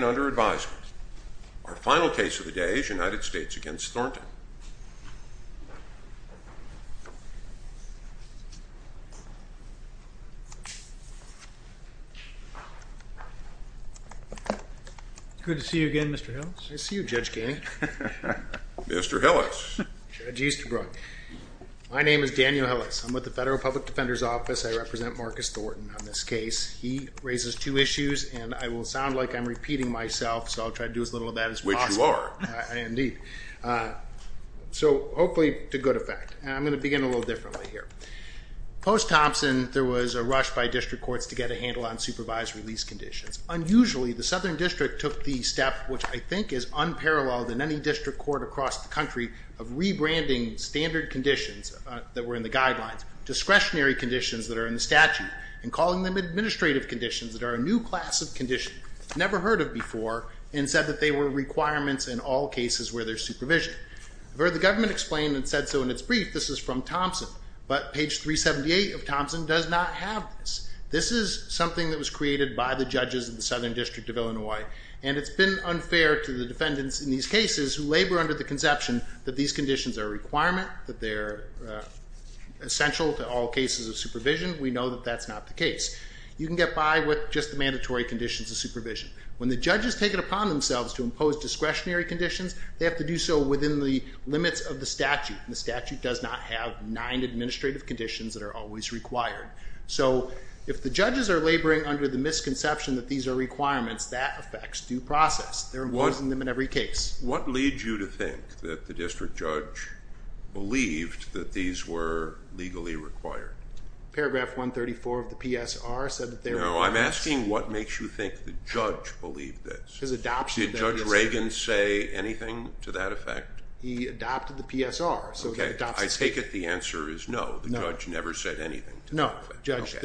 under advisement. Our final case of the day is United States against Thornton. Good to see you again, Mr. Hillis. Good to see you, Judge Ganey. Mr. Hillis. Judge Easterbrook. My name is Daniel Hillis. I'm with the Federal Public Defender's Office. I represent Marcus Thornton on this case. He raises two issues and I will sound like I'm repeating myself, so I'll try to do as little of that as possible. Which you are. Indeed. So hopefully to good effect. I'm going to begin a little differently here. Post Thompson, there was a rush by district courts to get a handle on supervised release conditions. Unusually, the Southern District took the step, which I think is unparalleled in any district court across the country, of rebranding standard conditions that were in the guidelines, discretionary conditions that are in the statute, and calling them administrative conditions that are a new class of condition, never heard of before, and said that they were requirements in all cases where there's supervision. I've heard the government explain and said so in its brief, this is from Thompson, but page 378 of Thompson does not have this. This is something that was created by the judges in the Southern District of Illinois, and it's been unfair to the defendants in these cases who labor under the conception that these conditions are a requirement, that they're essential to all cases of supervision. We know that that's not the statutory conditions of supervision. When the judges take it upon themselves to impose discretionary conditions, they have to do so within the limits of the statute, and the statute does not have nine administrative conditions that are always required. So if the judges are laboring under the misconception that these are requirements, that affects due process. They're imposing them in every case. What leads you to think that the district judge believed that these were legally required? Paragraph 134 of the PSR said that they were. No, I'm asking what makes you think the judge believed this? Did Judge Reagan say anything to that effect? He adopted the PSR. Okay, I take it the answer is no, the judge never said anything. No, judge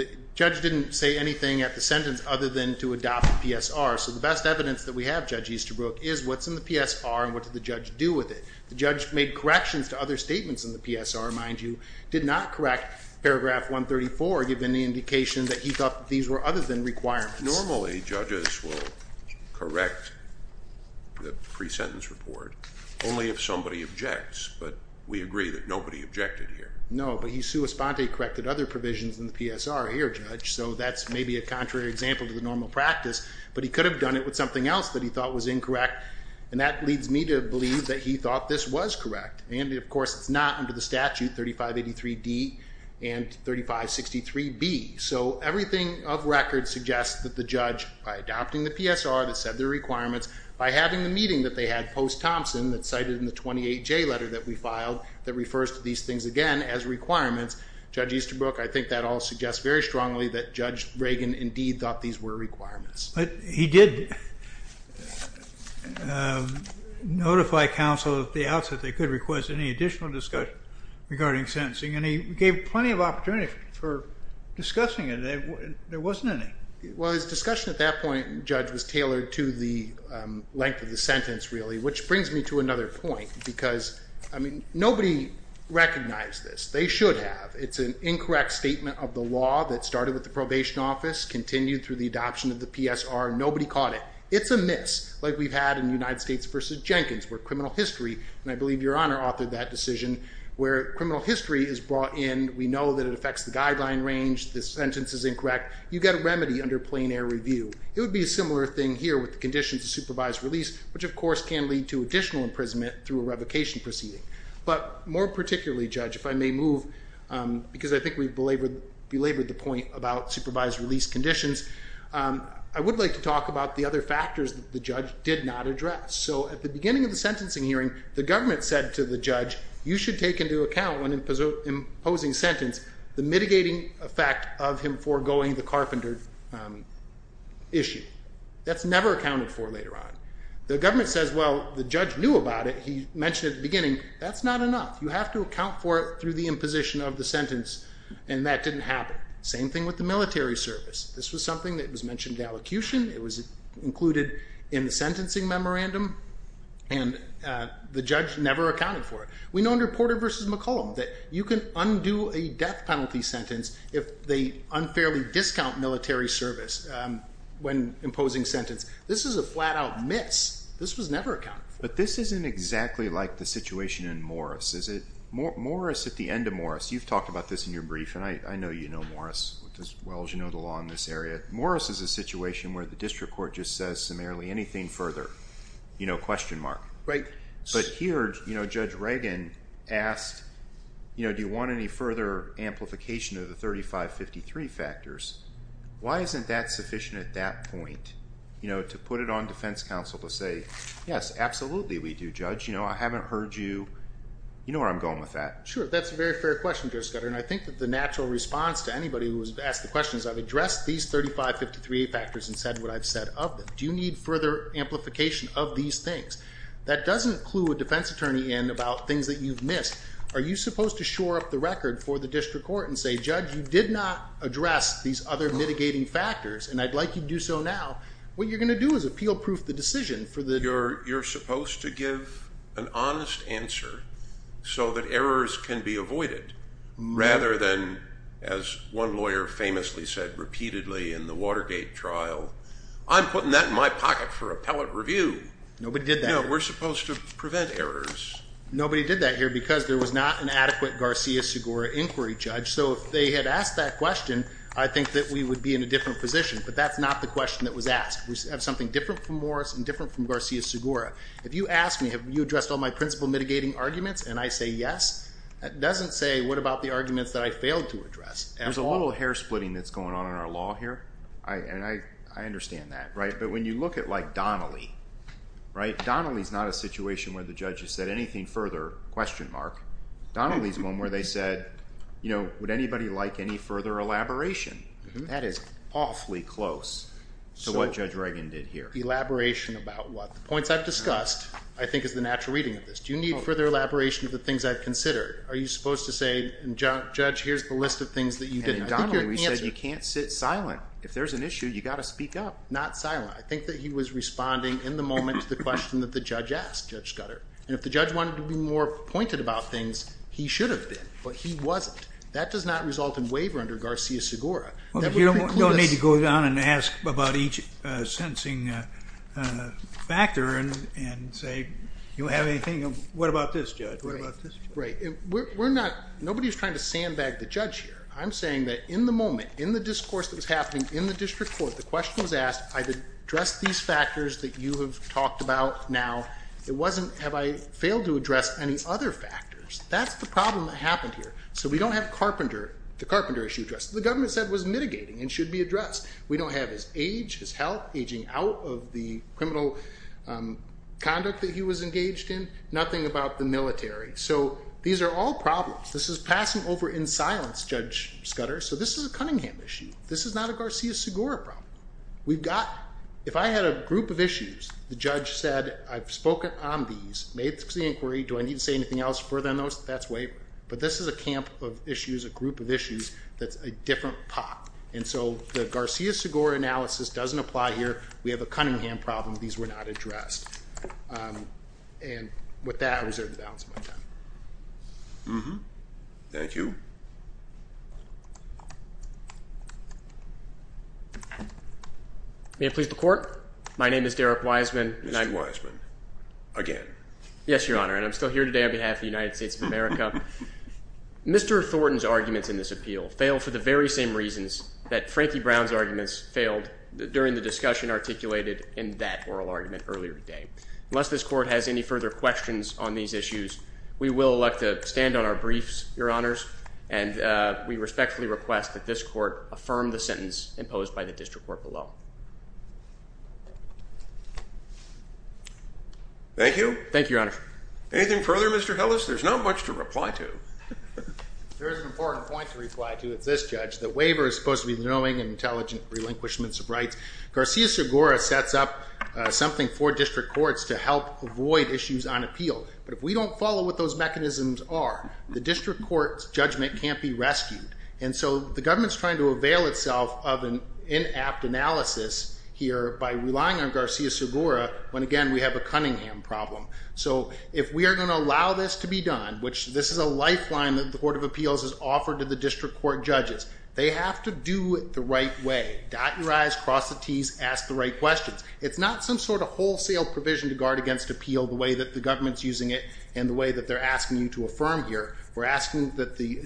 didn't say anything at the sentence other than to adopt the PSR, so the best evidence that we have, Judge Easterbrook, is what's in the PSR and what did the judge do with it. The judge made corrections to other statements in the PSR, mind you, did not correct paragraph 134 given the thought that these were other than requirements. Normally judges will correct the pre-sentence report only if somebody objects, but we agree that nobody objected here. No, but he sui sponte corrected other provisions in the PSR here, Judge, so that's maybe a contrary example to the normal practice, but he could have done it with something else that he thought was incorrect, and that leads me to believe that he thought this was correct, and of course it's not under the statute 3583 D and 3563 B, so everything of record suggests that the judge, by adopting the PSR that said the requirements, by having the meeting that they had post-Thompson that's cited in the 28 J letter that we filed that refers to these things again as requirements, Judge Easterbrook, I think that all suggests very strongly that Judge Reagan indeed thought these were requirements. But he did notify counsel at the outset they could request any additional discussion regarding sentencing, and he gave plenty of opportunity for discussing it. There wasn't any. Well, his discussion at that point, Judge, was tailored to the length of the sentence really, which brings me to another point because, I mean, nobody recognized this. They should have. It's an incorrect statement of the law that started with the probation office, continued through the adoption of the PSR, nobody caught it. It's a miss, like we've had in United States v. Jenkins, where criminal history, and I believe Your Honor authored that decision, where criminal history is brought in, we know that it affects the guideline range, this sentence is incorrect, you get a remedy under plain air review. It would be a similar thing here with the conditions of supervised release, which of course can lead to additional imprisonment through a revocation proceeding. But more particularly, Judge, if I may move, because I think we belabored the point about supervised release conditions, I would like to talk about the other factors that the judge did not address. So at the beginning of the sentencing hearing, the government said to the judge, you should take into account when imposing sentence, the mitigating effect of him foregoing the carpenter issue. That's never accounted for later on. The government says, well, the judge knew about it, he mentioned at the beginning, that's not enough. You have to account for it through the imposition of the sentence, and that didn't happen. Same thing with the military service. This was something that was mentioned in the allocution, it was included in the memorandum, and the judge never accounted for it. We know under Porter v. McCollum that you can undo a death penalty sentence if they unfairly discount military service when imposing sentence. This is a flat-out miss. This was never accounted for. But this isn't exactly like the situation in Morris, is it? Morris, at the end of Morris, you've talked about this in your brief, and I know you know Morris as well as you know the law in this area. Morris is a question mark. But here, Judge Reagan asked, do you want any further amplification of the 3553 factors? Why isn't that sufficient at that point, to put it on defense counsel to say, yes, absolutely we do, judge. I haven't heard you, you know where I'm going with that. Sure, that's a very fair question, Judge Scudder, and I think that the natural response to anybody who has asked the question is, I've addressed these 3553A factors and said what I've said of them. Do you need further amplification of these things? That doesn't clue a defense attorney in about things that you've missed. Are you supposed to shore up the record for the district court and say, judge, you did not address these other mitigating factors, and I'd like you to do so now. What you're gonna do is appeal proof the decision for the... You're supposed to give an honest answer so that errors can be avoided, rather than, as one lawyer famously said repeatedly in the Watergate trial, I'm putting that in my pocket for appellate review. Nobody did that. We're supposed to prevent errors. Nobody did that here because there was not an adequate Garcia-Segura inquiry, Judge, so if they had asked that question, I think that we would be in a different position, but that's not the question that was asked. We have something different from Morris and different from Garcia-Segura. If you ask me, have you addressed all my principle mitigating arguments, and I say yes, that doesn't say, what about the arguments that I failed to address? There's a little hair splitting that's going on in our law here, and I understand that, but when you look at Donnelly, Donnelly's not a situation where the judge has said anything further, question mark. Donnelly's one where they said, would anybody like any further elaboration? That is awfully close to what Judge Reagan did here. Elaboration about what? The points I've discussed, I think is the natural reading of this. Do you need further elaboration of the things I've considered? Are you supposed to say, Judge, here's the list of things that you didn't... And in Donnelly, we said you can't sit silent. If there's an issue, you gotta speak up. Not silent. I think that he was responding in the moment to the question that the judge asked, Judge Scudder. And if the judge wanted to be more pointed about things, he should have been, but he wasn't. That does not result in waiver under Garcia-Segura. You don't need to go down and ask about each sentencing factor and say, you don't have anything... What about this, Judge? What about this? Right. We're not... Nobody's trying to sandbag the judge here. I'm saying that in the moment, in the discourse that was happening in the district court, the question was asked, I've addressed these factors that you have talked about now. It wasn't, have I failed to address any other factors? That's the problem that happened here. So we don't have Carpenter, the Carpenter issue addressed. The government said was mitigating and should be addressed. We don't have his age, his health, aging out of the criminal conduct that he was engaged in, nothing about the military. So these are all problems. This is passing over in silence, Judge Scudder. So this is a Cunningham issue. This is not a Garcia-Segura problem. We've got... If I had a group of issues, the judge said, I've spoken on these, made the inquiry, do I need to say anything else further than those? That's waiver. But this is a camp of issues, a group of issues that's a different pot. And so the Garcia-Segura analysis doesn't apply here. We have a Cunningham problem. These were not addressed. And with that, I reserve the balance of my time. Thank you. May it please the court. My name is Derrick Wiseman. Mr. Wiseman, again. Yes, Your Honor. And I'm still here today on behalf of the United States of America. Mr. Thornton's arguments in this appeal fail for the discussion articulated in that oral argument earlier today. Unless this court has any further questions on these issues, we will elect to stand on our briefs, Your Honors. And we respectfully request that this court affirm the sentence imposed by the district court below. Thank you. Thank you, Your Honor. Anything further, Mr. Hillis? There's not much to reply to. There is an important point to reply to. It's this, Judge. The waiver is supposed to be knowing and intelligent relinquishments of rights Garcia-Segura sets up something for district courts to help avoid issues on appeal. But if we don't follow what those mechanisms are, the district court's judgment can't be rescued. And so the government's trying to avail itself of an inapt analysis here by relying on Garcia-Segura when, again, we have a Cunningham problem. So if we are going to allow this to be done, which this is a lifeline that the Court of Appeals has offered to the district court judges, they have to do it the right way. Dot your t's, ask the right questions. It's not some sort of wholesale provision to guard against appeal the way that the government's using it and the way that they're asking you to affirm here. We're asking that the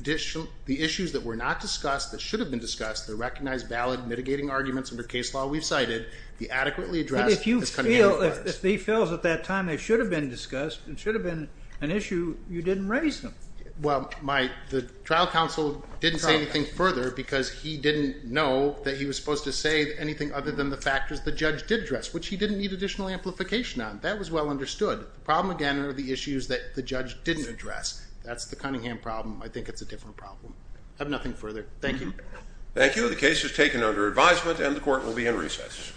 issues that were not discussed, that should have been discussed, the recognized valid mitigating arguments under case law we've cited, the adequately addressed... And if you feel, if he feels at that time they should have been discussed and should have been an issue, you didn't raise them. Well, the trial counsel didn't say anything further because he didn't know that he was supposed to say anything other than the factors the judge did address, which he didn't need additional amplification on. That was well understood. The problem, again, are the issues that the judge didn't address. That's the Cunningham problem. I think it's a different problem. I have nothing further. Thank you. Thank you. The case is taken under advisement and the court will be in recess.